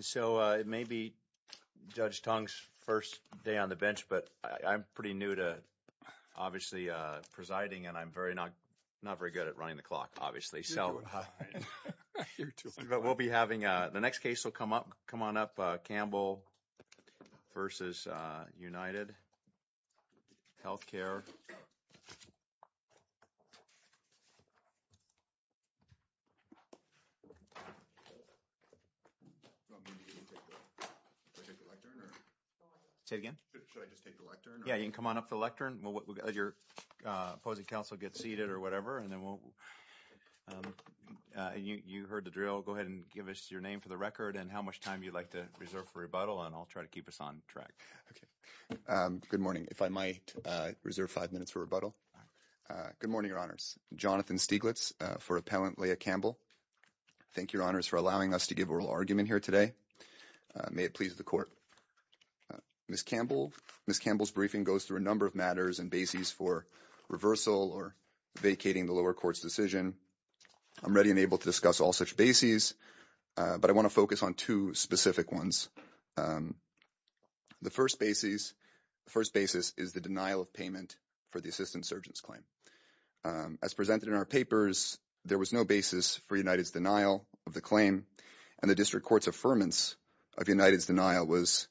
So it may be Judge Tong's first day on the bench, but I'm pretty new to obviously presiding and I'm not very good at running the clock, obviously. But we'll be having, the next case will come up, come on up, Campbell v. UnitedHealthcare. Should I just take the lectern? Yeah, you can come on up to the lectern. We'll let your opposing counsel get seated or whatever and then we'll, you heard the drill. Go ahead and give us your name for the record and how much time you'd like to reserve for rebuttal and I'll try to keep us on track. Okay, good morning. If I might reserve five minutes for rebuttal. Good morning, Your Honors. Jonathan Stieglitz for Appellant Leah Campbell. Thank you, Your Honors, for allowing us to give oral argument here today. May it please the Court. Ms. Campbell's briefing goes through a number of matters and bases for reversal or vacating the lower court's decision. I'm ready and able to discuss all such bases, but I want to focus on two specific ones. The first basis is the denial of payment for the assistant surgeon's claim. As presented in our papers, there was no basis for United's denial of the claim and the district court's affirmance of United's denial was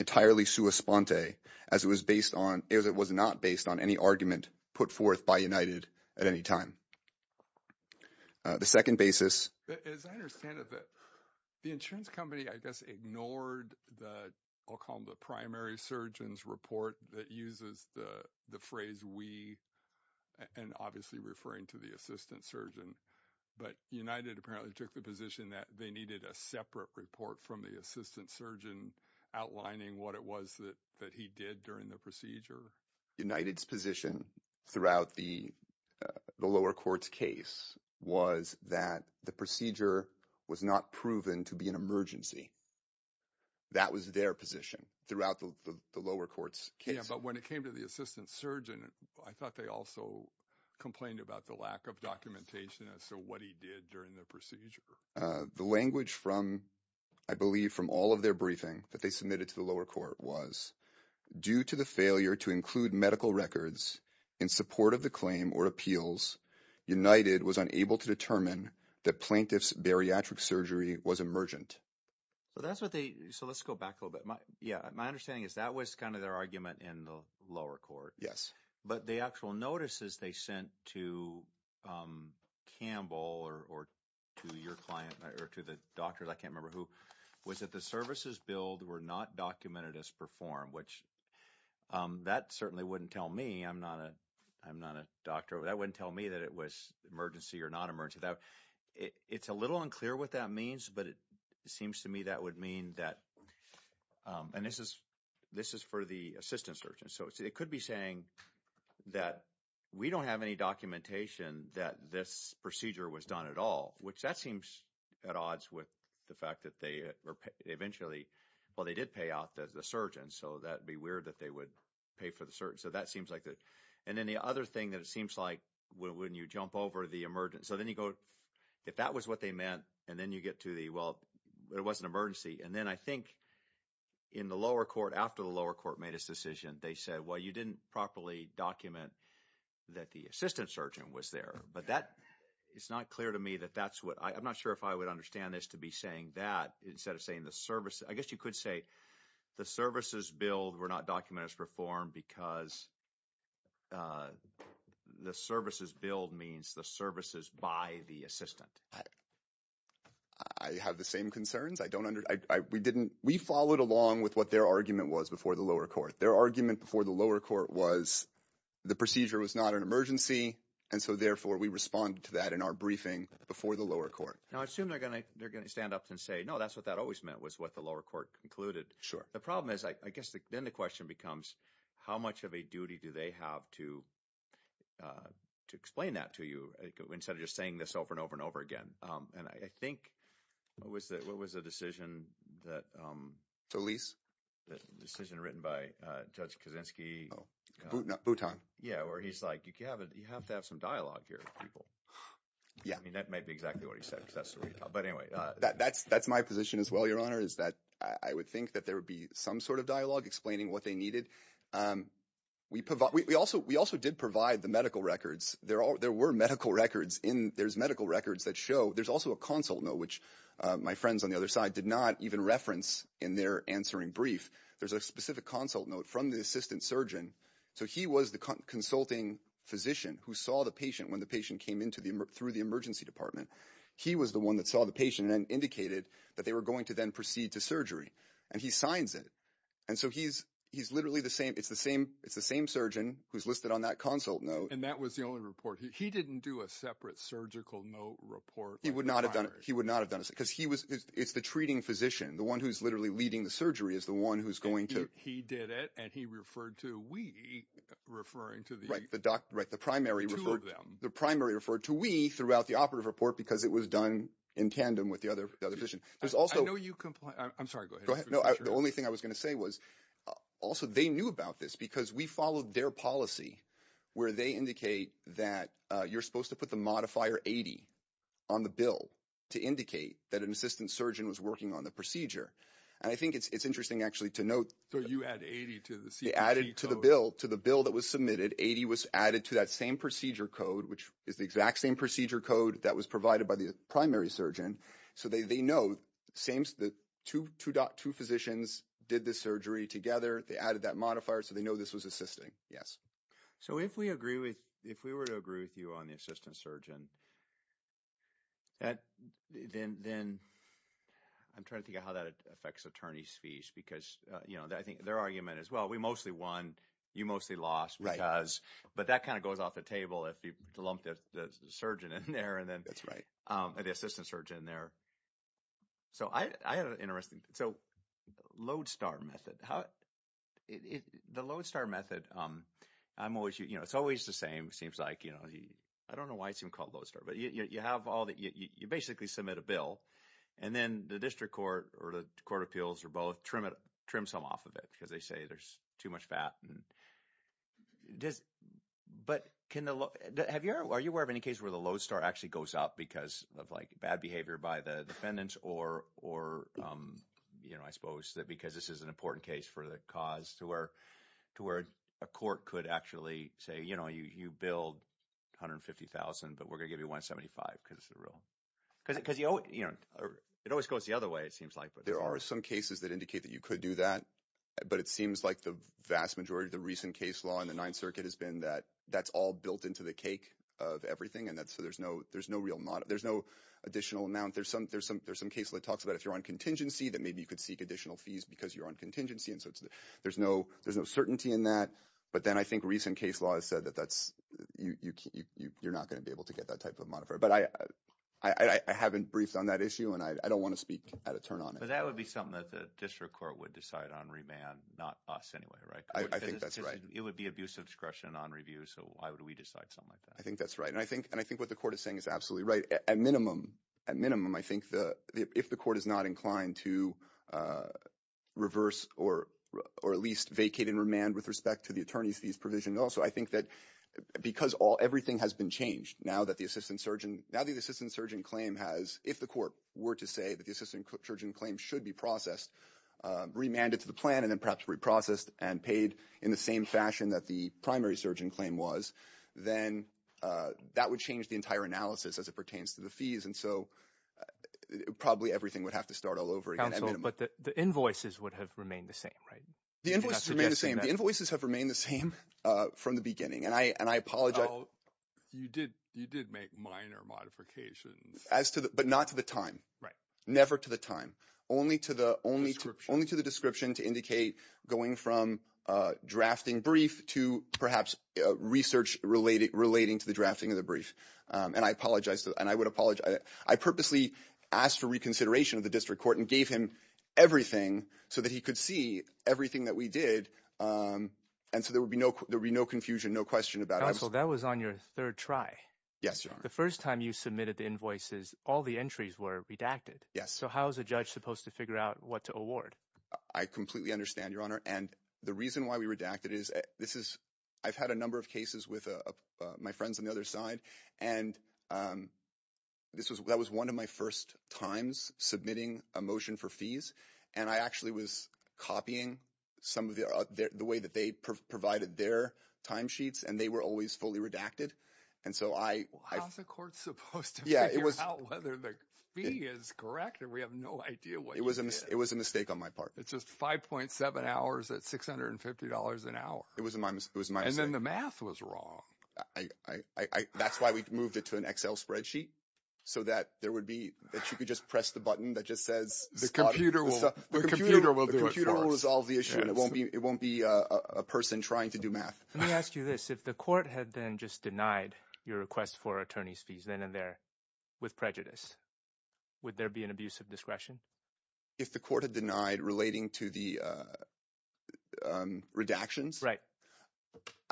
entirely sua sponte as it was based on, as it was not based on any argument put forth by United at any time. The second basis. As I understand it, the insurance company, I guess, ignored the, the primary surgeon's report that uses the phrase we and obviously referring to the assistant surgeon. But United apparently took the position that they needed a separate report from the assistant surgeon outlining what it was that he did during the procedure. United's position throughout the lower court's case was that the procedure was not proven to be an emergency. That was their position throughout the lower court's case. But when it came to the assistant surgeon, I thought they also complained about the lack of documentation as to what he did during the procedure. The language from, I believe from all of their briefing that they submitted to the lower court was due to the failure to include medical records in support of the claim or appeals United was unable to determine that plaintiff's bariatric surgery was emergent. So that's what they, so let's go back a little bit. My, yeah, my understanding is that was kind of their argument in the lower court. Yes. But the actual notices they sent to Campbell or, or to your client or to the doctors, I can't remember who, was that the services billed were not documented as performed, which that certainly wouldn't tell me. I'm not a, I'm not a doctor. That wouldn't tell me that it was emergency or non-emergency. It's a little unclear what that means, but it seems to me that would mean that, and this is, this is for the assistant surgeon. So it could be saying that we don't have any documentation that this procedure was done at all, which that seems at odds with the fact that they eventually, well, they did pay out the surgeon. So that'd be weird that they would pay for the surgeon. So that seems like that. And then the other thing that it seems like when you jump over the emergent, so then you go, if that was what they meant, and then you get to the, well, it was an emergency. And then I think in the lower court, after the lower court made his decision, they said, well, you didn't properly document that the assistant surgeon was there, but that it's not clear to me that that's what, I'm not sure if I would understand this to be saying that instead of saying the service, I guess you could say the services billed were not documented as performed because the services billed means the services by the assistant. I have the same concerns. I don't under, I, we didn't, we followed along with what their argument was before the lower court. Their argument before the lower court was the procedure was not an emergency. And so therefore we respond to that in our briefing before the lower court. Now, I assume they're going to, they're going to stand up and say, no, that's what that always meant was what the lower court concluded. Sure. The problem is, I guess then the question becomes how much of a duty do they have to, uh, to explain that to you instead of just saying this over and over and over again? Um, and I think what was the, what was the decision that, um, decision written by, uh, judge Kaczynski. Yeah. Or he's like, you can have a, you have to have some dialogue here with people. I mean, that may be exactly what he said, but anyway, uh, that that's, that's my position as well. Your honor is that I would think that there would be some sort of dialogue explaining what they needed. Um, we provide, we also, we also did provide the medical records. There are, there were medical records in there's medical records that show there's also a consult note, which, uh, my friends on the other side did not even reference in their answering brief. There's a specific consult note from the assistant surgeon. So he was the consulting physician who saw the patient when the patient came into the, through the emergency department. He was the one that saw the patient and indicated that they were to then proceed to surgery and he signs it. And so he's, he's literally the same. It's the same, it's the same surgeon who's listed on that consult note. And that was the only report he didn't do a separate surgical note report. He would not have done it. He would not have done it because he was, it's the treating physician. The one who's literally leading the surgery is the one who's going to, he did it. And he referred to, we referring to the doc, right. The primary, the primary referred to we throughout the operative report because it was done in tandem with the other, the other vision. There's also, I'm sorry, go ahead. No, the only thing I was going to say was also they knew about this because we followed their policy where they indicate that you're supposed to put the modifier 80 on the bill to indicate that an assistant surgeon was working on the procedure. And I think it's, it's interesting actually to note. So you add 80 to the, to the bill, to the bill that was submitted. 80 was added to that same procedure code, which is the exact same procedure code that was provided by the primary surgeon. So they, they know same, the two, two doc, two physicians did the surgery together. They added that modifier. So they know this was assisting. Yes. So if we agree with, if we were to agree with you on the assistant surgeon, that then, then I'm trying to think of how that affects attorney's fees because, you know, I think their argument as well, we mostly won, you mostly lost because, but that kind of goes off the table if you lump the surgeon in there and then the assistant surgeon in there. So I, I had an interesting, so Lodestar method, the Lodestar method, I'm always, you know, it's always the same. It seems like, you know, I don't know why it's even called Lodestar, but you have all the, you basically submit a bill and then the district court or the court appeals or both trim it, trim some off of it because they say there's too much fat. Does, but can the, have you ever, are you aware of any cases where the Lodestar actually goes up because of like bad behavior by the defendants or, or, you know, I suppose that because this is an important case for the cause to where, to where a court could actually say, you know, you, you billed 150,000, but we're going to give you 175 because the real, because, because you, you know, it always goes the other way, it seems like. There are some cases that indicate that you do that, but it seems like the vast majority of the recent case law in the Ninth Circuit has been that that's all built into the cake of everything. And that's, so there's no, there's no real mod, there's no additional amount. There's some, there's some, there's some cases that talks about if you're on contingency that maybe you could seek additional fees because you're on contingency. And so it's, there's no, there's no certainty in that. But then I think recent case law has said that that's, you, you, you, you're not going to be able to get that type of modifier, but I, I haven't briefed on that issue and I don't want to speak at a turn on it. That would be something that the district court would decide on remand, not us anyway, right? I think that's right. It would be abuse of discretion on review. So why would we decide something like that? I think that's right. And I think, and I think what the court is saying is absolutely right. At minimum, at minimum, I think the, if the court is not inclined to reverse or, or at least vacate and remand with respect to the attorney's fees provision. Also, I think that because all, everything has been changed now that the assistant surgeon, now the assistant surgeon claim has, if the court were to say that the assistant surgeon claim should be processed, remanded to the plan, and then perhaps reprocessed and paid in the same fashion that the primary surgeon claim was, then that would change the entire analysis as it pertains to the fees. And so probably everything would have to start all over again. But the invoices would have remained the same, right? The invoices remain the same. The invoices have remained the same from the beginning. And I, and I apologize. You did, you did make minor modifications. As to the, but not to the time. Right. Never to the time. Only to the, only to, only to the description to indicate going from drafting brief to perhaps research related, relating to the drafting of the brief. And I apologize to, and I would apologize. I purposely asked for reconsideration of the district court and gave him everything so that he could see everything that we did. And so there would be no, there'd be no confusion, no question about it. Counsel, that was on your third try. Yes, Your Honor. The first time you submitted the invoices, all the entries were redacted. Yes. So how is a judge supposed to figure out what to award? I completely understand, Your Honor. And the reason why we redacted is this is, I've had a number of cases with my friends on the other side. And this was, that was one of my first times submitting a motion for fees. And I actually was copying some of the, the way that they provided their timesheets and they were always fully redacted. And so I, I. How's the court supposed to figure out whether the fee is correct or we have no idea what you did? It was a mistake on my part. It's just 5.7 hours at $650 an hour. It was my mistake. And then the math was wrong. That's why we moved it to an Excel spreadsheet so that there would be, that you could just press the button that just says. The computer will do it for us. The computer will resolve the issue and it won't be, it won't be a person trying to do math. Let me ask you this. If the court had then just denied your request for attorney's fees, then and there with prejudice, would there be an abuse of discretion? If the court had denied relating to the redactions. Right.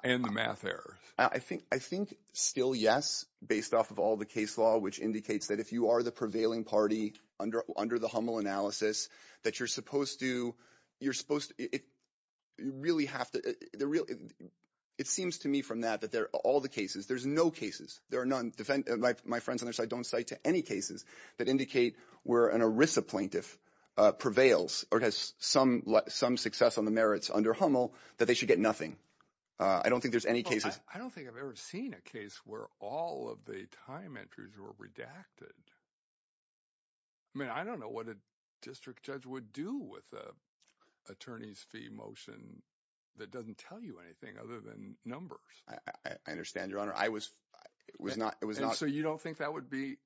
And the math error. I think, I think still yes, based off of all the case law, which indicates that if you are the prevailing party under, under the Hummel analysis that you're supposed to, you're supposed to, you really have to, it seems to me from that, that there are all the cases, there's no cases, there are none, my friends on their side don't cite to any cases that indicate where an ERISA plaintiff prevails or has some, some success on the merits under Hummel that they should get nothing. I don't think there's any cases. I don't think I've ever seen a case where all of the time entries were redacted. I mean, I don't know what a district judge would do with a attorney's fee motion that doesn't tell you anything other than numbers. I understand your honor. I was, it was not, it was not. So you don't think that would be,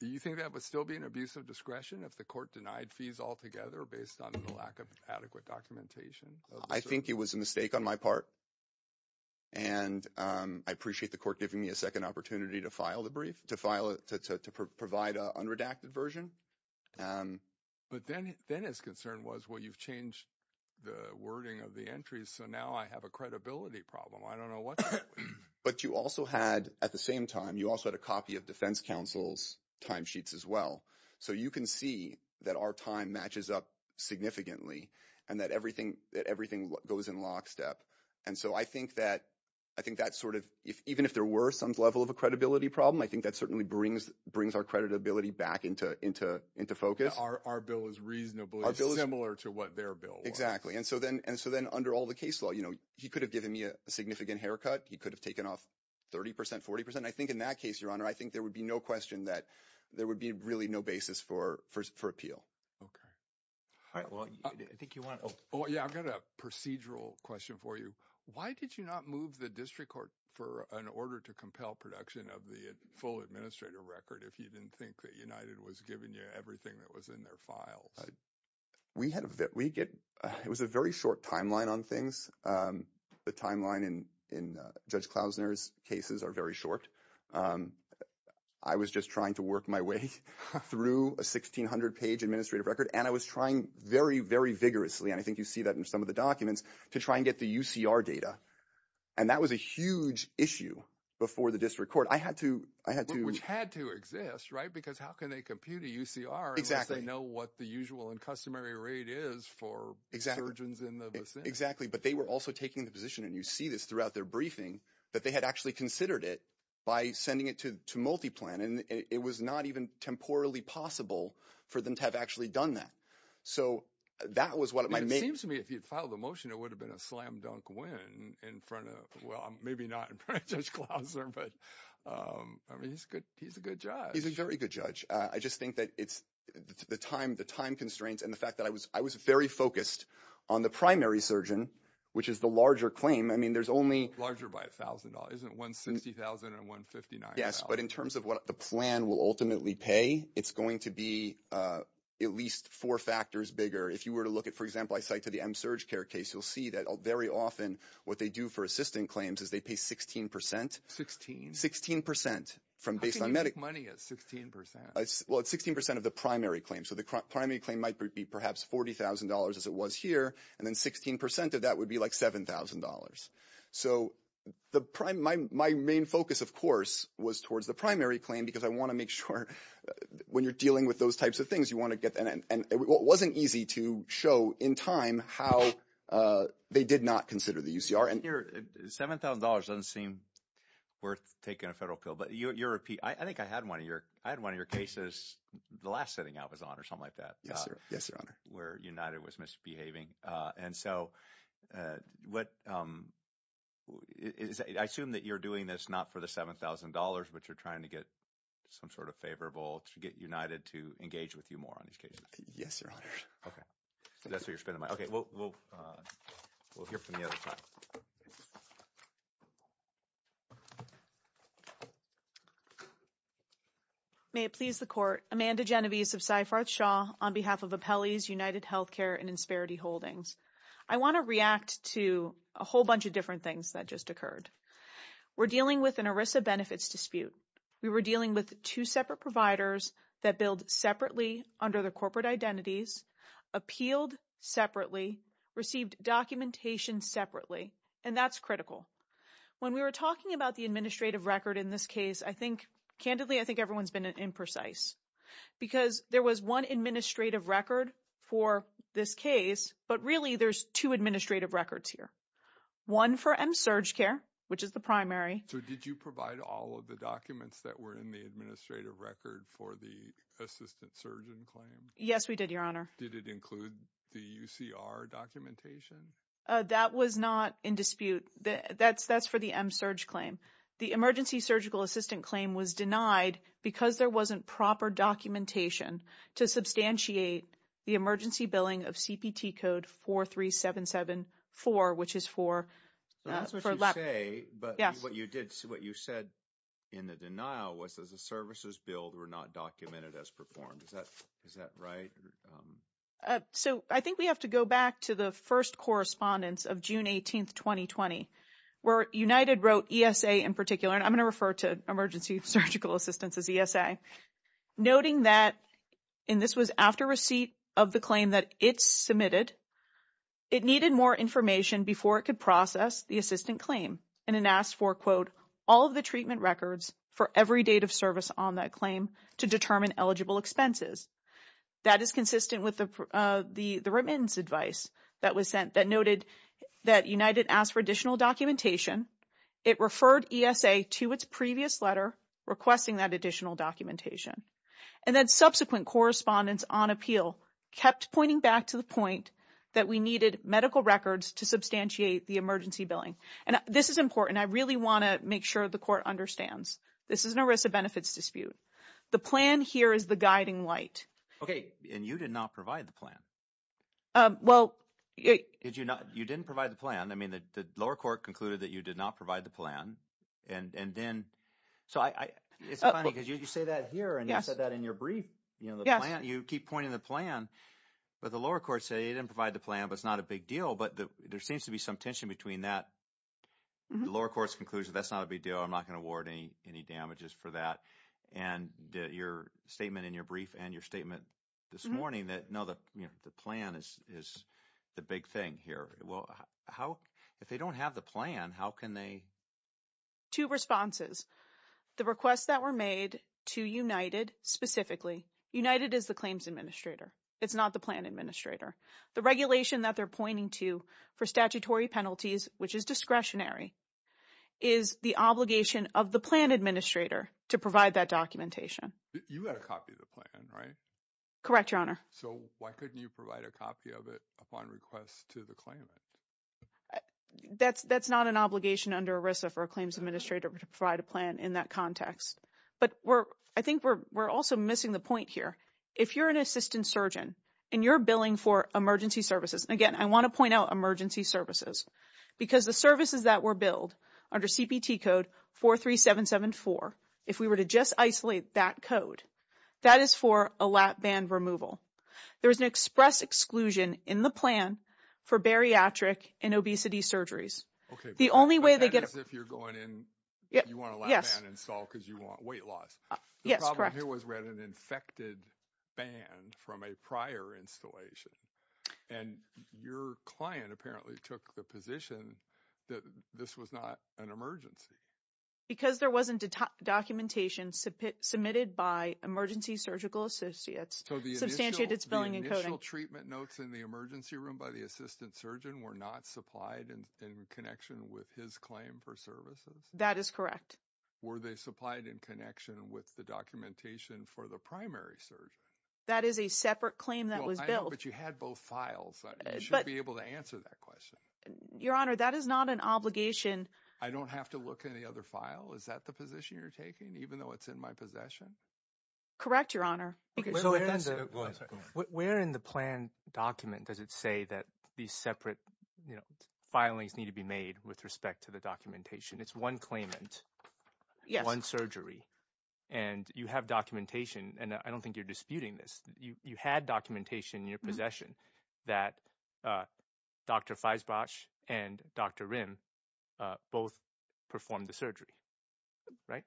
do you think that would still be an abuse of discretion if the court denied fees altogether based on the lack of adequate documentation? I think it was a mistake on my part. And I appreciate the court giving me a second opportunity to file the brief, to file it, to provide an unredacted version. But then his concern was, well, you've changed the wording of the entries. So now I have a credibility problem. I don't know what that would mean. But you also had, at the same time, you also had a copy of defense counsel's time sheets as well. So you can see that our time matches up significantly and that everything, that everything goes in lockstep. And so I think that, I think that sort of, even if there were some level of a credibility problem, that certainly brings our credibility back into focus. Our bill is reasonably similar to what their bill was. Exactly. And so then under all the case law, he could have given me a significant haircut. He could have taken off 30%, 40%. I think in that case, your honor, I think there would be no question that there would be really no basis for appeal. Okay. All right. Well, I think you want to, oh, yeah, I've got a procedural question for you. Why did you not move the district court for an order to compel production of the full administrative record if you didn't think that United was giving you everything that was in their files? We had, we get, it was a very short timeline on things. The timeline in Judge Klausner's cases are very short. I was just trying to work my way through a 1600-page administrative record. And I was trying very, very vigorously, and I think you see that in some of the documents, to try and get the UCR data. And that was a huge issue before the district court. I had to, I had to. Which had to exist, right? Because how can they compute a UCR unless they know what the usual and customary rate is for surgeons in the vicinity. Exactly. But they were also taking the position, and you see this throughout their briefing, that they had actually considered it by sending it to multi-plan. And it was not even temporally possible for them to have actually done that. So that was what it might make. Seems to me if you'd filed a motion, it would have been a slam dunk win in front of, well, maybe not in front of Judge Klausner, but I mean, he's a good judge. He's a very good judge. I just think that it's the time, the time constraints, and the fact that I was very focused on the primary surgeon, which is the larger claim. I mean, there's only- Larger by $1,000, isn't it? $160,000 and $159,000. Yes, but in terms of what the plan will ultimately pay, it's going to be at least four factors bigger. If you were to look at, for example, I cite to the M-SurgCare case, you'll see that very often what they do for assistant claims is they pay 16%. 16? 16% from baseline- How can you make money at 16%? Well, it's 16% of the primary claim. So the primary claim might be perhaps $40,000 as it was here, and then 16% of that would be like $7,000. So my main focus, of course, was towards the primary claim because I want to make sure when you're dealing with those types of things, you want to get- It wasn't easy to show in time how they did not consider the UCR and- Your $7,000 doesn't seem worth taking a federal appeal, but you repeat- I think I had one of your cases, the last sitting I was on or something like that- Yes, your honor. Where United was misbehaving. And so I assume that you're doing this not for the $7,000, but you're trying to get some sort of favorable to get United to engage with you more on these cases. Yes, your honor. Okay, that's where you're spending my- Okay, we'll hear from the other side. May it please the court. Amanda Genovese of SyFarth Shaw on behalf of Appellee's United Healthcare and Insperity Holdings. I want to react to a whole bunch of different things that just occurred. We're dealing with an ERISA benefits dispute. We were dealing with two separate providers that billed separately under the corporate identities, appealed separately, received documentation separately. And that's critical. When we were talking about the administrative record in this case, I think, candidly, I think everyone's been imprecise. Because there was one administrative record for this case, but really there's two administrative records here. One for MSurgCare, which is the primary- The administrative record for the assistant surgeon claim. Yes, we did, your honor. Did it include the UCR documentation? That was not in dispute. That's for the MSurg claim. The emergency surgical assistant claim was denied because there wasn't proper documentation to substantiate the emergency billing of CPT code 43774, which is for- So that's what you say, but what you said in the denial was that the services billed were not documented as performed. Is that right? So I think we have to go back to the first correspondence of June 18th, 2020, where United wrote ESA in particular, and I'm going to refer to emergency surgical assistance as ESA, noting that, and this was after receipt of the claim that it submitted, it needed more information before it could process the assistant claim. And it asked for, quote, all of the treatment records for every date of service on that claim to determine eligible expenses. That is consistent with the remittance advice that was sent that noted that United asked for additional documentation. It referred ESA to its previous letter requesting that additional documentation. And then subsequent correspondence on appeal kept pointing back to the point that we needed medical records to substantiate the emergency billing. And this is important. I really want to make sure the court understands. This is an ERISA benefits dispute. The plan here is the guiding light. And you did not provide the plan. Well- You didn't provide the plan. I mean, the lower court concluded that you did not provide the plan. And then, so I, it's funny because you say that here and you said that in your brief, you know, the plan, you keep pointing the plan, but the lower court said you didn't provide the plan, but it's not a big deal. But there seems to be some tension between that, the lower court's conclusion, that's not a big deal. I'm not going to award any damages for that. And your statement in your brief and your statement this morning that, no, the plan is the big thing here. Well, how, if they don't have the plan, how can they- Two responses. The requests that were made to United specifically, United is the claims administrator. It's not the plan administrator. The regulation that they're pointing to for statutory penalties, which is discretionary, is the obligation of the plan administrator to provide that documentation. You got a copy of the plan, right? Correct, Your Honor. So why couldn't you provide a copy of it upon request to the claimant? That's not an obligation under ERISA for a claims administrator to provide a plan in that context. But we're, I think we're also missing the point here. If you're an assistant surgeon and you're billing for emergency services, and again, I want to point out emergency services, because the services that were billed under CPT code 43774, if we were to just isolate that code, that is for a lap band removal. There was an express exclusion in the plan for bariatric and obesity surgeries. Okay. The only way they get- That is if you're going in, you want a lap band installed because you want weight loss. Yes, correct. The problem here was we had an infected band from a prior installation. And your client apparently took the position that this was not an emergency. Because there wasn't documentation submitted by emergency surgical associates. So the initial- Substantiated billing and coding. The initial treatment notes in the emergency room by the assistant surgeon were not supplied in connection with his claim for services? That is correct. Were they supplied in connection with the documentation for the primary surge? That is a separate claim that was billed. But you had both files. You should be able to answer that question. Your Honor, that is not an obligation. I don't have to look in the other file? Is that the position you're taking? Even though it's in my possession? Correct, Your Honor. Where in the plan document does it say that these separate filings need to be made with respect to the documentation? It's one claimant, one surgery. And you have documentation. And I don't think you're disputing this. You had documentation in your possession that Dr. Feisbach and Dr. Rim both performed the surgery, right?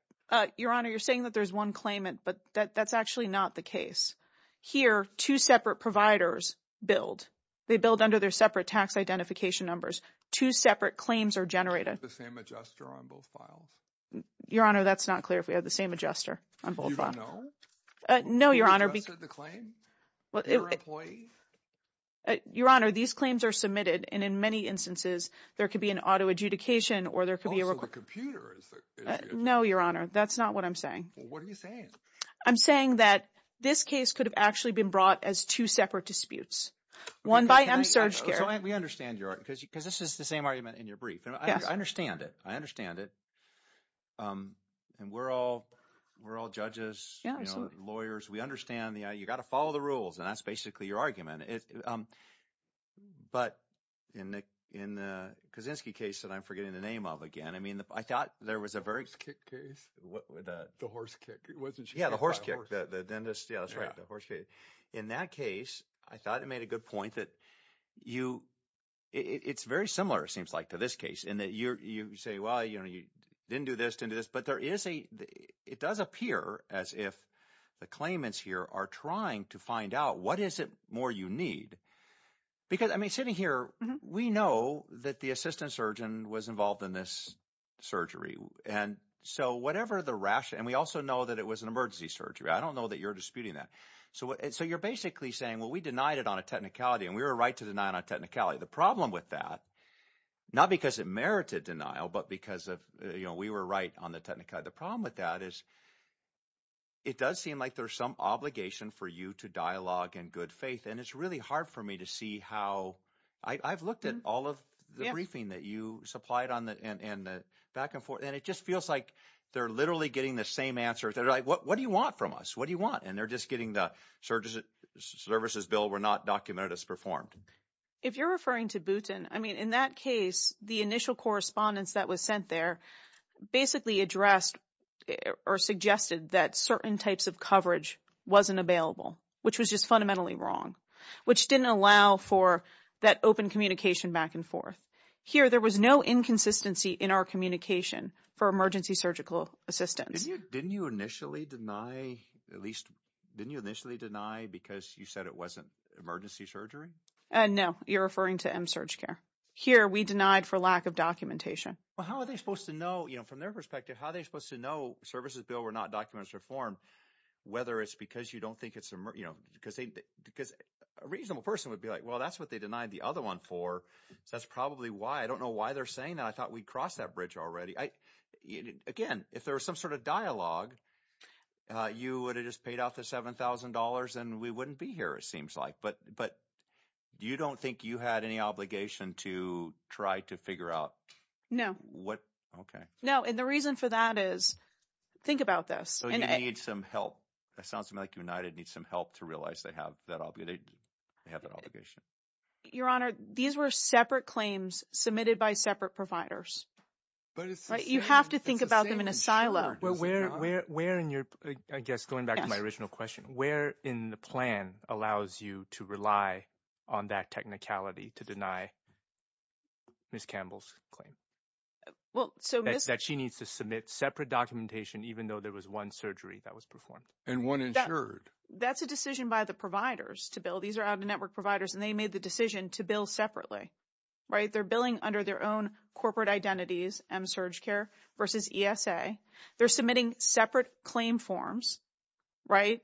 Your Honor, you're saying that there's one claimant, but that's actually not the case. Here, two separate providers billed. They billed under their separate tax identification numbers. Two separate claims are generated. The same adjuster on both files? Your Honor, that's not clear if we have the same adjuster on both files. Do you even know? No, Your Honor. Who adjusted the claim? Their employee? Your Honor, these claims are submitted. And in many instances, there could be an auto adjudication or there could be a record. Oh, so a computer is the... No, Your Honor. That's not what I'm saying. What are you saying? I'm saying that this case could have actually been brought as two separate disputes. One by MSurgCare. We understand, Your Honor, because this is the same argument in your brief. I understand it. I understand it. And we're all judges, lawyers. We understand. You got to follow the rules. And that's basically your argument. But in the Kaczynski case that I'm forgetting the name of again, I mean, I thought there was a very... The horse kick case? The horse kick, wasn't she? Yeah, the horse kick. Yeah, that's right. The horse kick. In that case, I thought it made a good point that you... It's very similar, it seems like, to this case in that you say, well, you didn't do this, didn't do this. But it does appear as if the claimants here are trying to find out what is it more you need. Because, I mean, sitting here, we know that the assistant surgeon was involved in this And so whatever the rationale... And we also know that it was an emergency surgery. I don't know that you're disputing that. So you're basically saying, well, we denied it on a technicality and we were right to deny it on technicality. The problem with that, not because it merited denial, but because we were right on the technicality. The problem with that is it does seem like there's some obligation for you to dialogue in good faith. And it's really hard for me to see how... I've looked at all of the briefing that you supplied on the back and forth. And it just feels like they're literally getting the same answer. They're like, what do you want from us? What do you want? And they're just getting the services bill were not documented as performed. If you're referring to Boutin, I mean, in that case, the initial correspondence that was sent there basically addressed or suggested that certain types of coverage wasn't available, which was just fundamentally wrong, which didn't allow for that open communication back and forth. Here, there was no inconsistency in our communication for emergency surgical assistance. Didn't you initially deny, at least, didn't you initially deny because you said it wasn't emergency surgery? No, you're referring to MSurgCare. Here, we denied for lack of documentation. Well, how are they supposed to know, from their perspective, how they're supposed to know services bill were not documented as performed, whether it's because you don't think it's... Because a reasonable person would be like, well, that's what they denied the other one for. So that's probably why. I don't know why they're saying that. I thought we'd crossed that bridge already. Again, if there was some sort of dialogue, you would have just paid out the $7,000 and we wouldn't be here, it seems like. But you don't think you had any obligation to try to figure out? Okay. No. And the reason for that is, think about this. So you need some help. It sounds to me like United needs some help to realize they have that obligation. Your Honor, these were separate claims submitted by separate providers. You have to think about them in a silo. But where in your, I guess, going back to my original question, where in the plan allows you to rely on that technicality to deny Ms. Campbell's claim? That she needs to submit separate documentation, even though there was one surgery that was performed. And one insured. That's a decision by the providers to bill. These are out-of-network providers, and they made the decision to bill separately. They're billing under their own corporate identities, MSurgCare versus ESA. They're submitting separate claim forms. Right?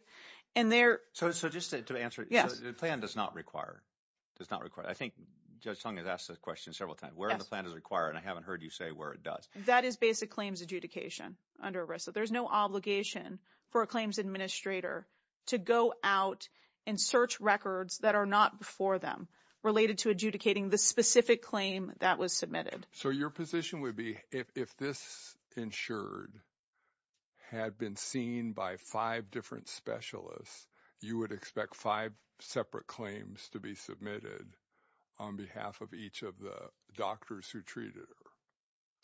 So just to answer, the plan does not require. I think Judge Sung has asked this question several times. Where in the plan does it require? And I haven't heard you say where it does. That is basic claims adjudication under ERISA. There's no obligation for a claims administrator to go out and search records that are not before them related to adjudicating the specific claim that was submitted. So your position would be, if this insured had been seen by five different specialists, you would expect five separate claims to be submitted on behalf of each of the doctors who treated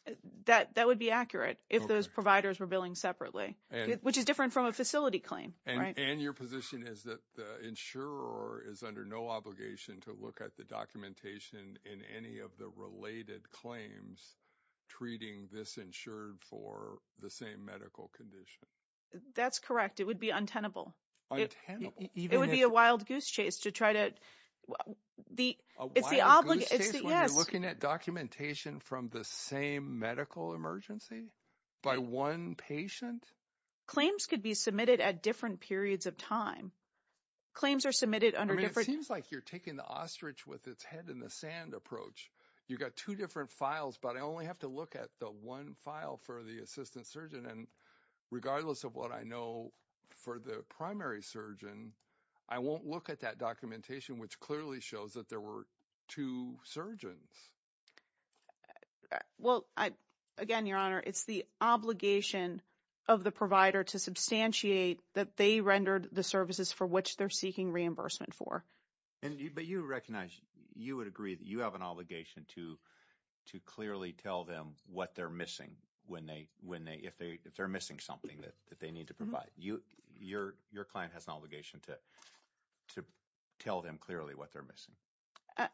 her? That would be accurate if those providers were billing separately, which is different from a facility claim, right? And your position is that the insurer is under no obligation to look at the documentation in any of the related claims treating this insured for the same medical condition. That's correct. It would be untenable. It would be a wild goose chase to try to... A wild goose chase when you're looking at documentation from the same medical emergency by one patient? Claims could be submitted at different periods of time. Claims are submitted under different... You've got two different files, but I only have to look at the one file for the assistant surgeon. And regardless of what I know for the primary surgeon, I won't look at that documentation, which clearly shows that there were two surgeons. Well, again, Your Honor, it's the obligation of the provider to substantiate that they rendered the services for which they're seeking reimbursement for. But you recognize, you would agree that you have an obligation to clearly tell them what they're missing if they're missing something that they need to provide. Your client has an obligation to tell them clearly what they're missing.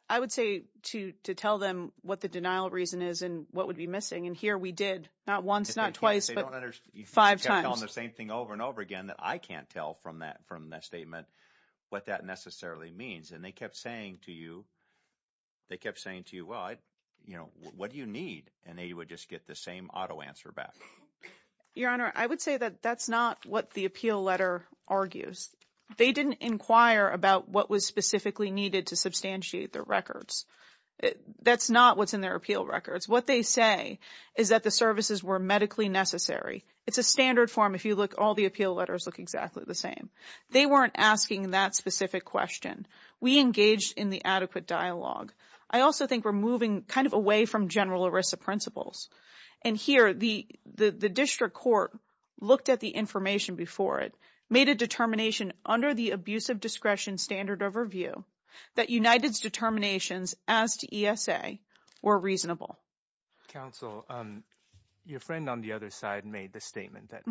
I would say to tell them what the denial of reason is and what would be missing. And here we did. Not once, not twice, but five times. You kept telling the same thing over and over again that I can't tell from that statement what that necessarily means. And they kept saying to you, well, what do you need? And they would just get the same auto answer back. Your Honor, I would say that that's not what the appeal letter argues. They didn't inquire about what was specifically needed to substantiate their records. That's not what's in their appeal records. What they say is that the services were medically necessary. It's a standard form. If you look, all the appeal letters look exactly the same. They weren't asking that specific question. We engaged in the adequate dialogue. I also think we're moving kind of away from general ERISA principles. And here the district court looked at the information before it, made a determination under the abuse of discretion standard overview that United's determinations as to ESA were reasonable. Counsel, your friend on the other side made the statement that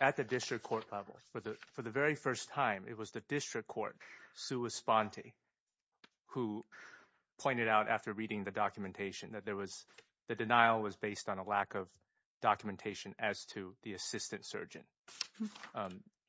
at the district court level for the very first time, it was the district court, Sue Esponti, who pointed out after reading the documentation that there was, the denial was based on a lack of documentation as to the assistant surgeon.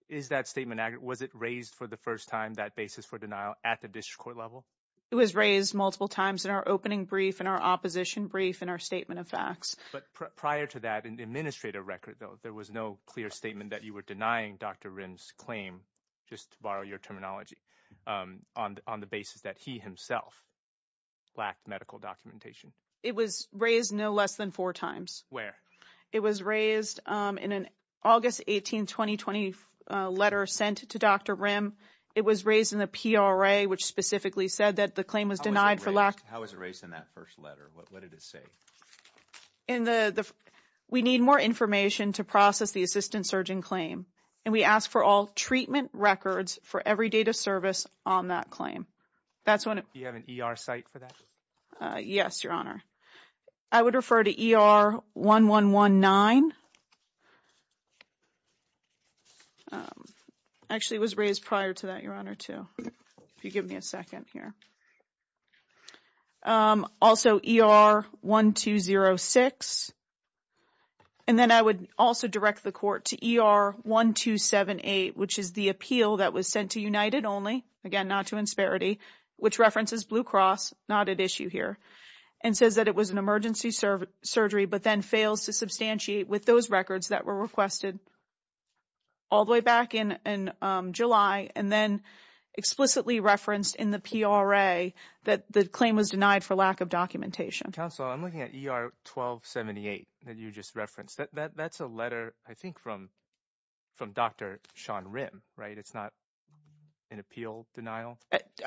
Is that statement accurate? Was it raised for the first time, that basis for denial at the district court level? It was raised multiple times in our opening brief, in our opposition brief, in our statement of facts. But prior to that, in the administrative record though, there was no clear statement that you were denying Dr. Rim's claim, just to borrow your terminology, on the basis that he himself lacked medical documentation. It was raised no less than four times. Where? It was raised in an August 18, 2020 letter sent to Dr. Rim. It was raised in the PRA, which specifically said that the claim was denied for lack- How was it raised in that first letter? What did it say? In the, we need more information to process the assistant surgeon claim. And we ask for all treatment records for every date of service on that claim. That's when- Do you have an ER site for that? Yes, Your Honor. I would refer to ER 1119. Actually, it was raised prior to that, Your Honor, too. If you give me a second here. Okay. Also, ER 1206. And then I would also direct the court to ER 1278, which is the appeal that was sent to United only. Again, not to insperity, which references Blue Cross, not at issue here, and says that it was an emergency surgery, but then fails to substantiate with those records that were requested all the way back in July. And then explicitly referenced in the PRA that the claim was denied for lack of documentation. Counsel, I'm looking at ER 1278 that you just referenced. That's a letter, I think, from Dr. Sean Rim, right? It's not an appeal denial.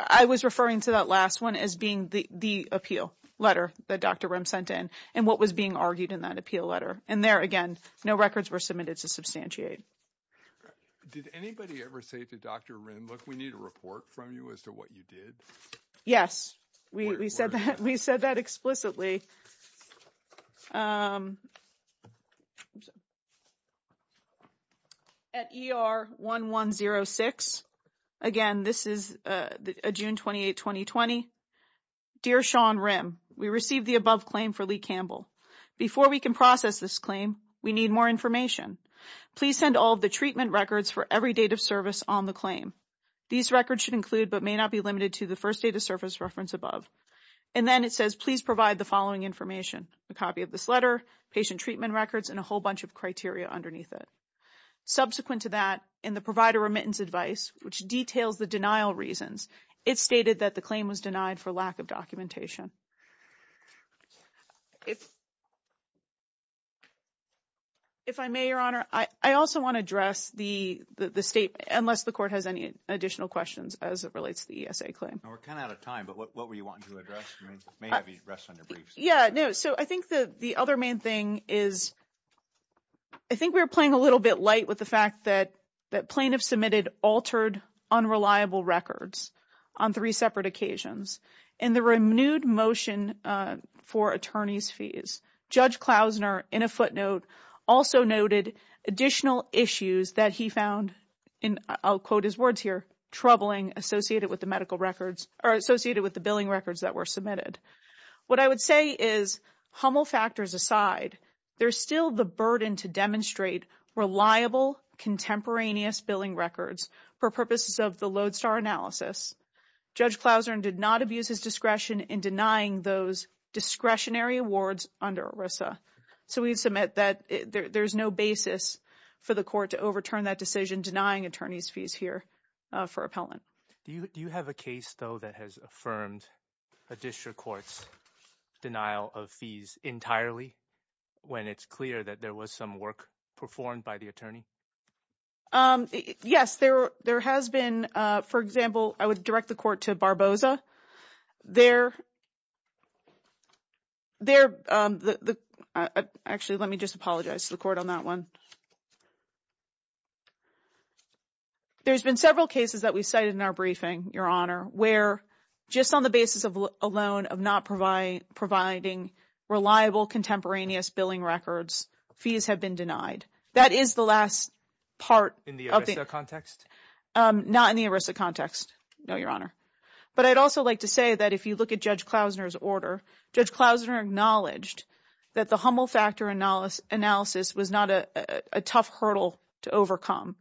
I was referring to that last one as being the appeal letter that Dr. Rim sent in and what was being argued in that appeal letter. And there, again, no records were submitted to substantiate. Did anybody ever say to Dr. Rim, look, we need a report from you as to what you did? Yes, we said that explicitly. At ER 1106, again, this is June 28, 2020. Dear Sean Rim, we received the above claim for Lee Campbell. Before we can process this claim, we need more information. Please send all of the treatment records for every date of service on the claim. These records should include, but may not be limited to, the first date of service reference above. And then it says, please provide the following information, a copy of this letter, patient treatment records, and a whole bunch of criteria underneath it. Subsequent to that, in the provider remittance advice, which details the denial reasons, it stated that the claim was denied for lack of documentation. If I may, Your Honor, I also want to address the state, unless the court has any additional questions as it relates to the ESA claim. We're kind of out of time, but what were you wanting to address? You may have your rest on your briefs. Yeah, no, so I think that the other main thing is, I think we were playing a little bit light with the fact that that plaintiffs submitted altered, unreliable records on three separate occasions. In the renewed motion for attorney's fees, Judge Klausner, in a footnote, also noted additional issues that he found, and I'll quote his words here, troubling associated with the medical records, or associated with the billing records that were submitted. What I would say is, Hummel factors aside, there's still the burden to demonstrate reliable contemporaneous billing records for purposes of the Lodestar analysis. Judge Klausner did not abuse his discretion in denying those discretionary awards under ERISA, so we submit that there's no basis for the court to overturn that decision denying attorney's fees here for appellant. Do you have a case, though, that has affirmed a district court's denial of fees entirely when it's clear that there was some work performed by the attorney? Yes, there has been. For example, I would direct the court to Barboza. Actually, let me just apologize to the court on that one. There's been several cases that we cited in our briefing, Your Honor, where just on the basis alone of not providing reliable contemporaneous billing records, fees have been denied. That is the last part. In the ERISA context? Not in the ERISA context, no, Your Honor. But I'd also like to say that if you look at Judge Klausner's order, Judge Klausner acknowledged that the Hummel factor analysis was not a tough hurdle to overcome.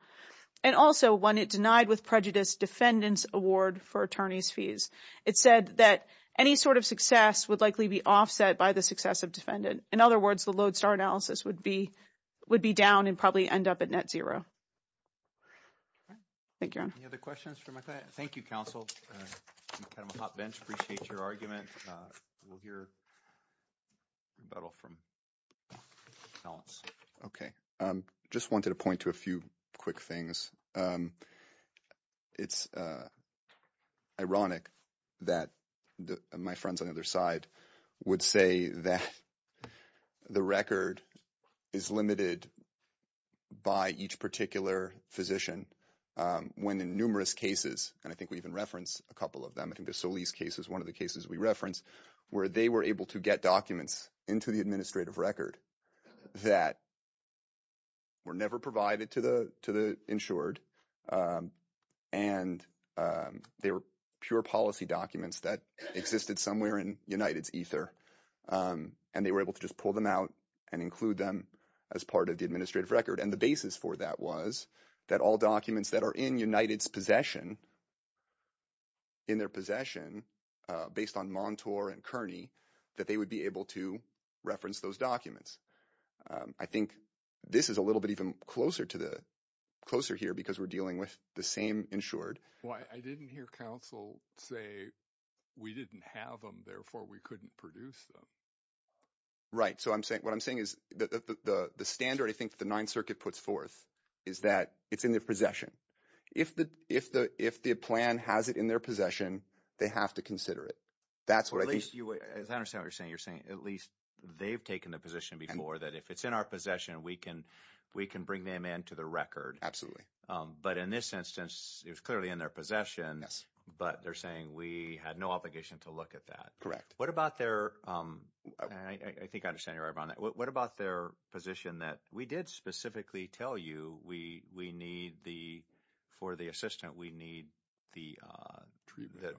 And also when it denied with prejudice defendant's award for attorney's fees, it said that any sort of success would likely be offset by the success of defendant. In other words, the Lodestar analysis would be down and probably end up at net zero. Thank you, Your Honor. Any other questions from my client? Thank you, counsel. I'm kind of a hot bench. Appreciate your argument. We'll hear a rebuttal from balance. Okay, just wanted to point to a few quick things. It's ironic that my friends on the other side would say that the record is limited by each particular physician. When in numerous cases, and I think we even reference a couple of them. I think the Solis case is one of the cases we reference where they were able to get documents into the administrative record that were never provided to the insured. And they were pure policy documents that existed somewhere in United's ether. And they were able to just pull them out and include them as part of the administrative record. And the basis for that was that all documents that are in United's possession, in their possession, based on Montour and Kearney, that they would be able to reference those documents. I think this is a little bit even closer here because we're dealing with the same insured. Well, I didn't hear counsel say, we didn't have them, therefore we couldn't produce them. Right, so what I'm saying is the standard, I think the Ninth Circuit puts forth is that it's in their possession. If the plan has it in their possession, they have to consider it. That's what I think. As I understand what you're saying, you're saying at least they've taken the position before that if it's in our possession, we can bring them into the record. But in this instance, it was clearly in their possession. Yes. But they're saying we had no obligation to look at that. Correct. What about their, and I think I understand you're right about that. What about their position that we did specifically tell you we need the, for the assistant, we need the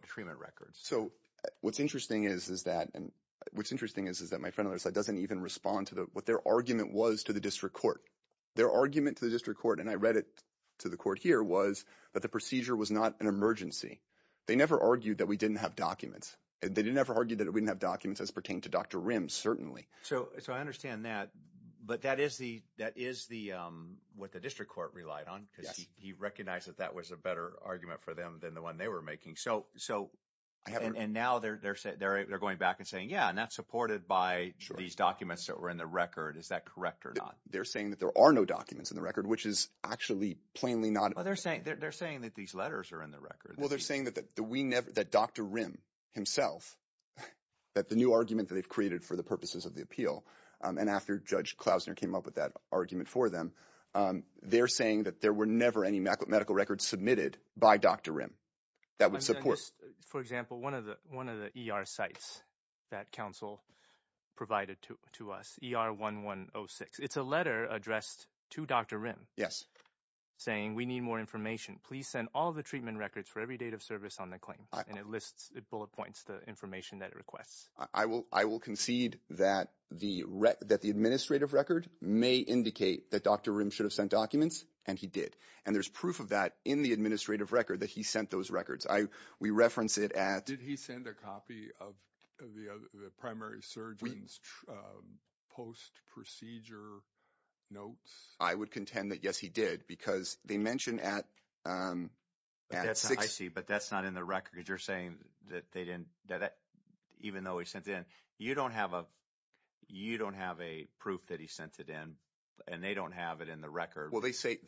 treatment records. So what's interesting is that, and what's interesting is that my friend doesn't even respond to what their argument was to the district court. Their argument to the district court, and I read it to the court here, was that the procedure was not an emergency. They never argued that we didn't have documents. They never argued that we didn't have documents as pertained to Dr. Rims, certainly. So I understand that, but that is the, that is the, what the district court relied on, because he recognized that that was a better argument for them than the one they were making. So, and now they're going back and saying, yeah, and that's supported by these documents that were in the record. Is that correct or not? They're saying that there are no documents in the record, which is actually plainly not. Well, they're saying that these letters are in the record. Well, they're saying that Dr. Rim himself, that the new argument that they've created for the purposes of the appeal, and after Judge Klausner came up with that argument for them, they're saying that there were never any medical records submitted by Dr. Rim that would support. For example, one of the ER sites that counsel provided to us, ER 1106. It's a letter addressed to Dr. Rim. Yes. Saying, we need more information. Please send all the treatment records for every date of service on the claim. And it lists, it bullet points the information that it requests. I will concede that the administrative record may indicate that Dr. Rim should have sent documents, and he did. And there's proof of that in the administrative record that he sent those records. We reference it at- Did he send a copy of the primary surgeon's post-procedure notes? I would contend that yes, he did, because they mentioned at six- I see, but that's not in the record, because you're saying that they didn't, even though he sent it in, you don't have a proof that he sent it in, and they don't have it in the record. Well, they say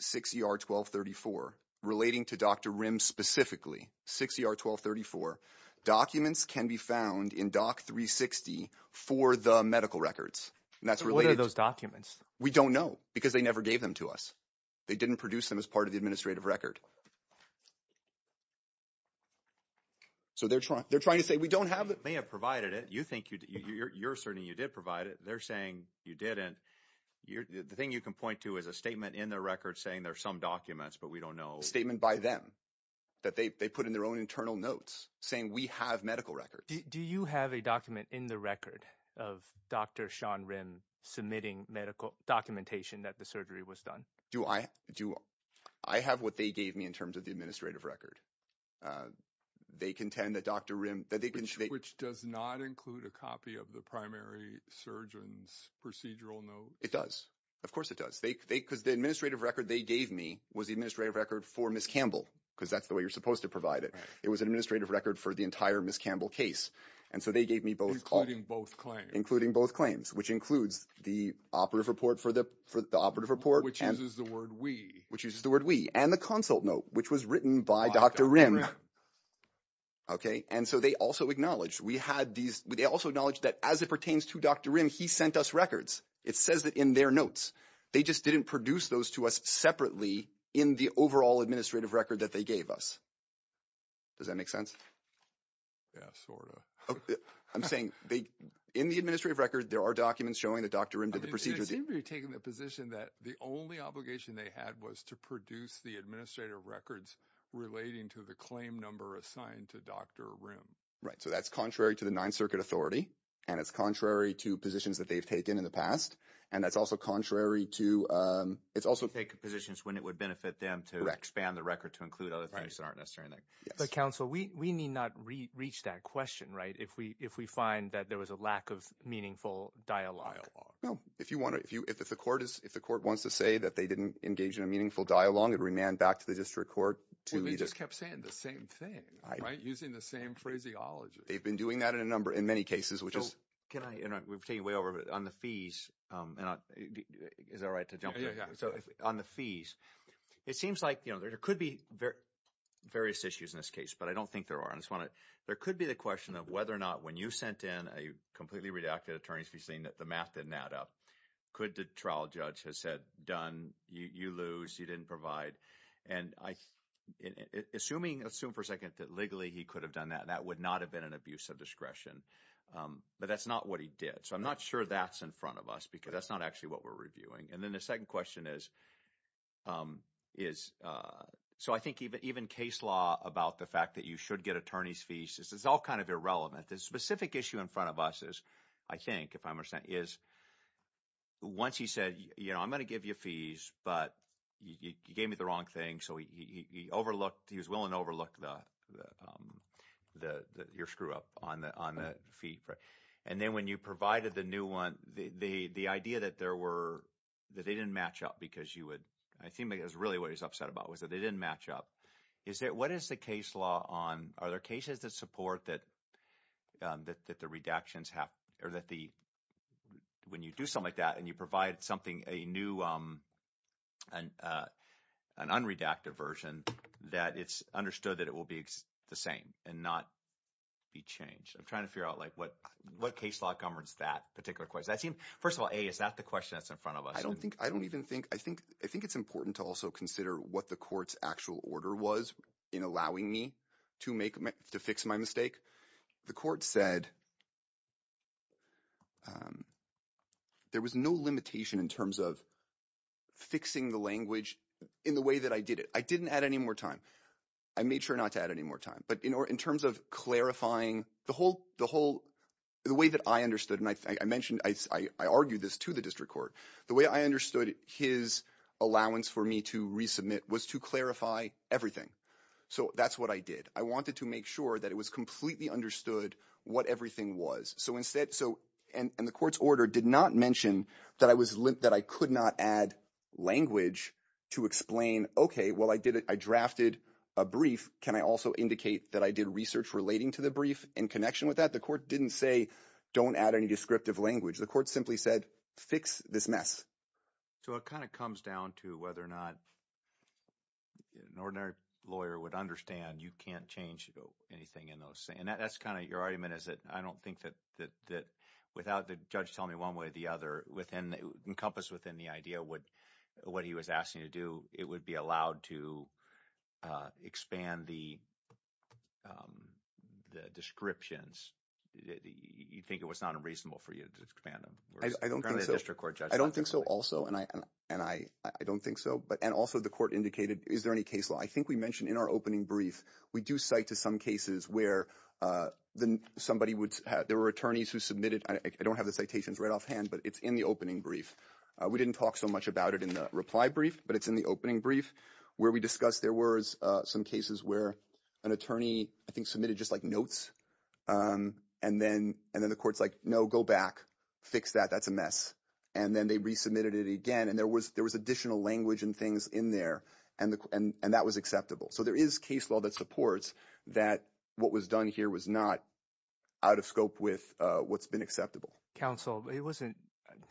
6ER1234, relating to Dr. Rim specifically, 6ER1234. Documents can be found in Doc 360 for the medical records. And that's related- What are those documents? We don't know, because they never gave them to us. They didn't produce them as part of the administrative record. So they're trying to say, we don't have it. They have provided it. You're asserting you did provide it. They're saying you didn't. The thing you can point to is a statement in the record saying there's some documents, but we don't know. A statement by them, that they put in their own internal notes, saying we have medical records. Do you have a document in the record of Dr. Sean Rim submitting medical documentation that the surgery was done? Do I have what they gave me? In terms of the administrative record. They contend that Dr. Rim- Which does not include a copy of the primary surgeon's procedural note. It does. Of course it does. Because the administrative record they gave me was the administrative record for Ms. Campbell, because that's the way you're supposed to provide it. It was administrative record for the entire Ms. Campbell case. And so they gave me both- Including both claims. Including both claims, which includes the operative report for the operative report. Which uses the word we. Which uses the word we. And the consult note, which was written by Dr. Rim. Okay. And so they also acknowledged, we had these- They also acknowledged that as it pertains to Dr. Rim, he sent us records. It says that in their notes. They just didn't produce those to us separately in the overall administrative record that they gave us. Does that make sense? Yeah, sort of. I'm saying, in the administrative record, there are documents showing that Dr. Rim did the procedures- It seems you're taking the position that the only obligation they had was to produce the administrative records relating to the claim number assigned to Dr. Rim. Right. So that's contrary to the Ninth Circuit authority. And it's contrary to positions that they've taken in the past. And that's also contrary to- It's also- Take positions when it would benefit them to expand the record to include other things that aren't necessary. But counsel, we need not reach that question, right? If we find that there was a lack of meaningful dialogue. No. If you want to- If the court wants to say that they didn't engage in a meaningful dialogue, it would remand back to the district court to- Well, they just kept saying the same thing, right? Using the same phraseology. They've been doing that in a number- In many cases, which is- So, can I interrupt? We've taken you way over. But on the fees- Is it all right to jump in? Yeah, yeah, yeah. So, on the fees, it seems like, you know, there could be various issues in this case. But I don't think there are. I just want to- There could be the question of whether or not, when you sent in a completely redacted attorney to be saying that the math didn't add up, could the trial judge have said, done, you lose, you didn't provide. And assuming, let's assume for a second, that legally he could have done that, that would not have been an abuse of discretion. But that's not what he did. So, I'm not sure that's in front of us because that's not actually what we're reviewing. And then the second question is- So, I think even case law about the fact that you should get attorney's fees, it's all kind of irrelevant. The specific issue in front of us is, I think, if I understand, is once he said, you know, I'm going to give you fees, but you gave me the wrong thing. So, he overlooked, he was willing to overlook your screw up on the fee. And then when you provided the new one, the idea that there were- that they didn't match up because you would- I think that's really what he's upset about, was that they didn't match up. What is the case law on- Are there cases that support that the redactions have- that the- when you do something like that, and you provide something, a new- an unredacted version, that it's understood that it will be the same and not be changed? I'm trying to figure out, like, what case law governs that particular question? That seems- First of all, A, is that the question that's in front of us? I don't think- I don't even think- I think it's important to also consider what the court's actual order was in allowing me to make- to fix my mistake. The court said there was no limitation in terms of fixing the language in the way that I did it. I didn't add any more time. I made sure not to add any more time. But in terms of clarifying the whole- the whole- the way that I understood- and I mentioned- I argued this to the district court. The way I understood his allowance for me to resubmit was to clarify everything. So that's what I did. I wanted to make sure that it was completely understood what everything was. So instead- so- and the court's order did not mention that I was- that I could not add language to explain, okay, well, I did it. I drafted a brief. Can I also indicate that I did research relating to the brief in connection with that? The court didn't say, don't add any descriptive language. The court simply said, fix this mess. So it kind of comes down to whether or not an ordinary lawyer would understand you can't change anything in those- and that's kind of your argument, is that I don't think that- without the judge telling me one way or the other, within- encompassed within the idea what he was asking you to do, it would be allowed to expand the descriptions. You'd think it was not unreasonable for you to expand them. I don't think so. I don't think so also. And I don't think so. But- and also the court indicated, is there any case law? I think we mentioned in our opening brief, we do cite to some cases where somebody would- there were attorneys who submitted- I don't have the citations right offhand, but it's in the opening brief. We didn't talk so much about it in the reply brief, but it's in the opening brief where we discussed there were some cases where an attorney, I think, submitted just like notes. And then- and then the court's like, no, go back. Fix that. That's a mess. And then they resubmitted it again. And there was- there was additional language and things in there. And the- and- and that was acceptable. So there is case law that supports that what was done here was not out of scope with what's been acceptable. Counsel, it wasn't-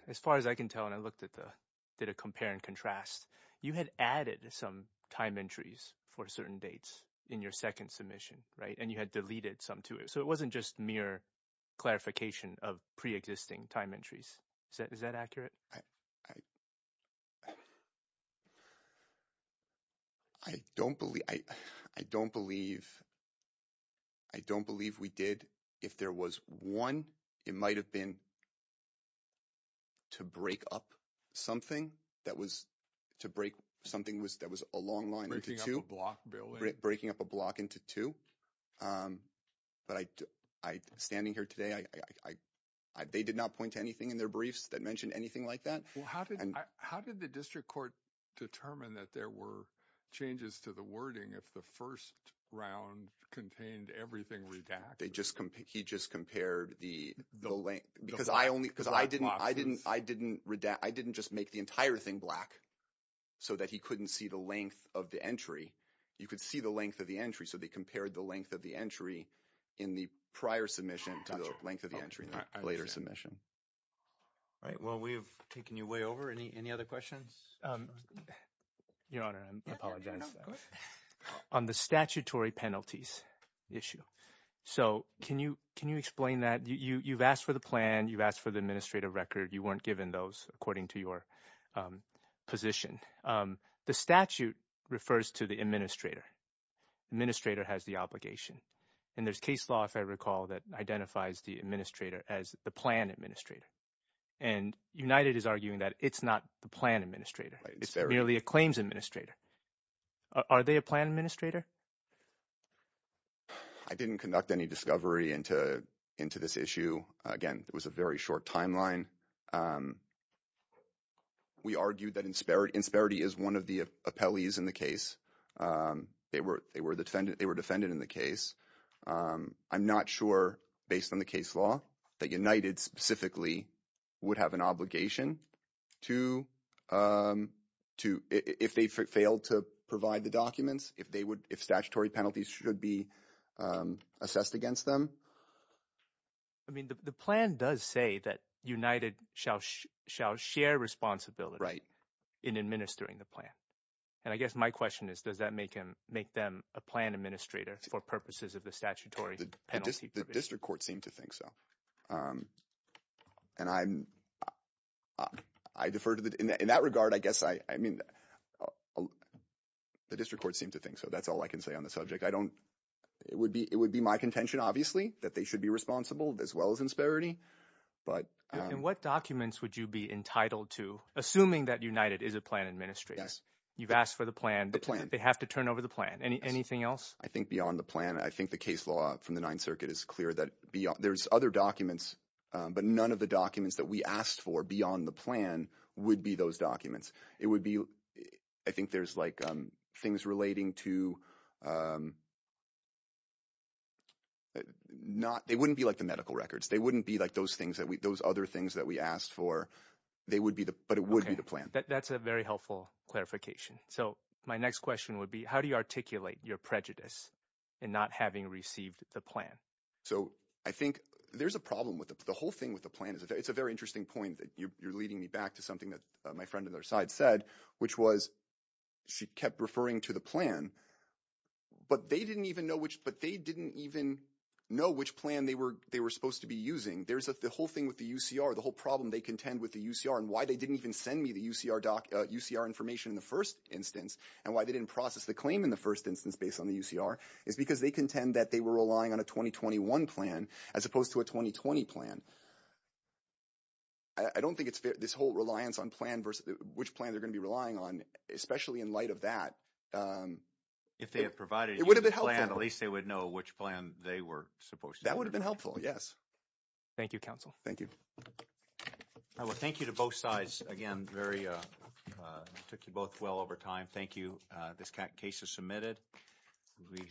as far as I can tell, and I looked at the- did a compare and contrast, you had added some time entries for certain dates in your second submission, right? And you had deleted some to it. So it wasn't just mere clarification of pre-existing time entries. Is that- is that accurate? I- I- I don't believe- I- I don't believe- I don't believe we did. If there was one, it might have been to break up something that was- to break something was- that was a long line into two. Breaking up a block, Bill. Breaking up a block into two. But I- I- standing here today, I- I- I- they did not point to anything in their briefs that mentioned anything like that. Well, how did- how did the district court determine that there were changes to the wording if the first round contained everything redacted? They just- he just compared the- the length- because I only- because I didn't- I didn't- I didn't redact- I didn't just make the entire thing black so that he couldn't see the length of the entry. You could see the length of the entry, so they compared the length of the entry in the prior submission to the length of the entry in the later submission. All right. Well, we've taken you way over. Any- any other questions? Your Honor, I apologize. On the statutory penalties issue, so can you- can you explain that? You- you've asked for the plan. You've asked for the administrative record. You weren't given those according to your position. The statute refers to the administrator. Administrator has the obligation. And there's case law, if I recall, that identifies the administrator as the plan administrator. And United is arguing that it's not the plan administrator. It's merely a claims administrator. Are they a plan administrator? I didn't conduct any discovery into- into this issue. Again, it was a very short timeline. We argued that in- Insperity is one of the appellees in the case. They were- they were the defendant- they were defended in the case. I'm not sure, based on the case law, that United, specifically, would have an obligation to- to- if they failed to provide the documents, if they would- if statutory penalties should be assessed against them. I mean, the plan does say that United shall- shall share responsibility in administering the plan. And I guess my question is, does that make him- make them a plan administrator for purposes of the statutory penalty? The district court seemed to think so. And I'm- I defer to the- in that regard, I guess I- I mean, the district court seemed to think so. That's all I can say on the subject. I don't- it would be- it would be my contention, obviously, that they should be responsible, as well as Insperity. But- And what documents would you be entitled to, assuming that United is a plan administrator? Yes. You've asked for the plan. The plan. They have to turn over the plan. Anything else? I think beyond the plan, I think the case law from the Ninth Circuit is clear that beyond- there's other documents, but none of the documents that we asked for beyond the plan would be those documents. It would be- I think there's, like, things relating to- not- they wouldn't be, like, the medical records. They wouldn't be, like, those things that we- those other things that we asked for. They would be the- but it would be the plan. That's a very helpful clarification. So my next question would be, how do you articulate your prejudice in not having received the plan? So I think there's a problem with it. The whole thing with the plan is- it's a very interesting point that you're leading me back to something that my friend on the other side said, which was she kept referring to the plan, but they didn't even know which- but they didn't even know which plan they were supposed to be using. There's a- the whole thing with the UCR, the whole problem they contend with the UCR, and why they didn't even send me the UCR doc- UCR information in the first instance, and why they didn't process the claim in the first instance based on the UCR, is because they contend that they were relying on a 2021 plan as opposed to a 2020 plan. I don't think it's fair- this whole reliance on plan versus- which plan they're going to be relying on, especially in light of that. If they had provided you the plan, at least they would know which plan they were supposed to- That would have been helpful, yes. Thank you, counsel. Thank you. Thank you to both sides. Again, very- took you both well over time. Thank you. This case is submitted. We have-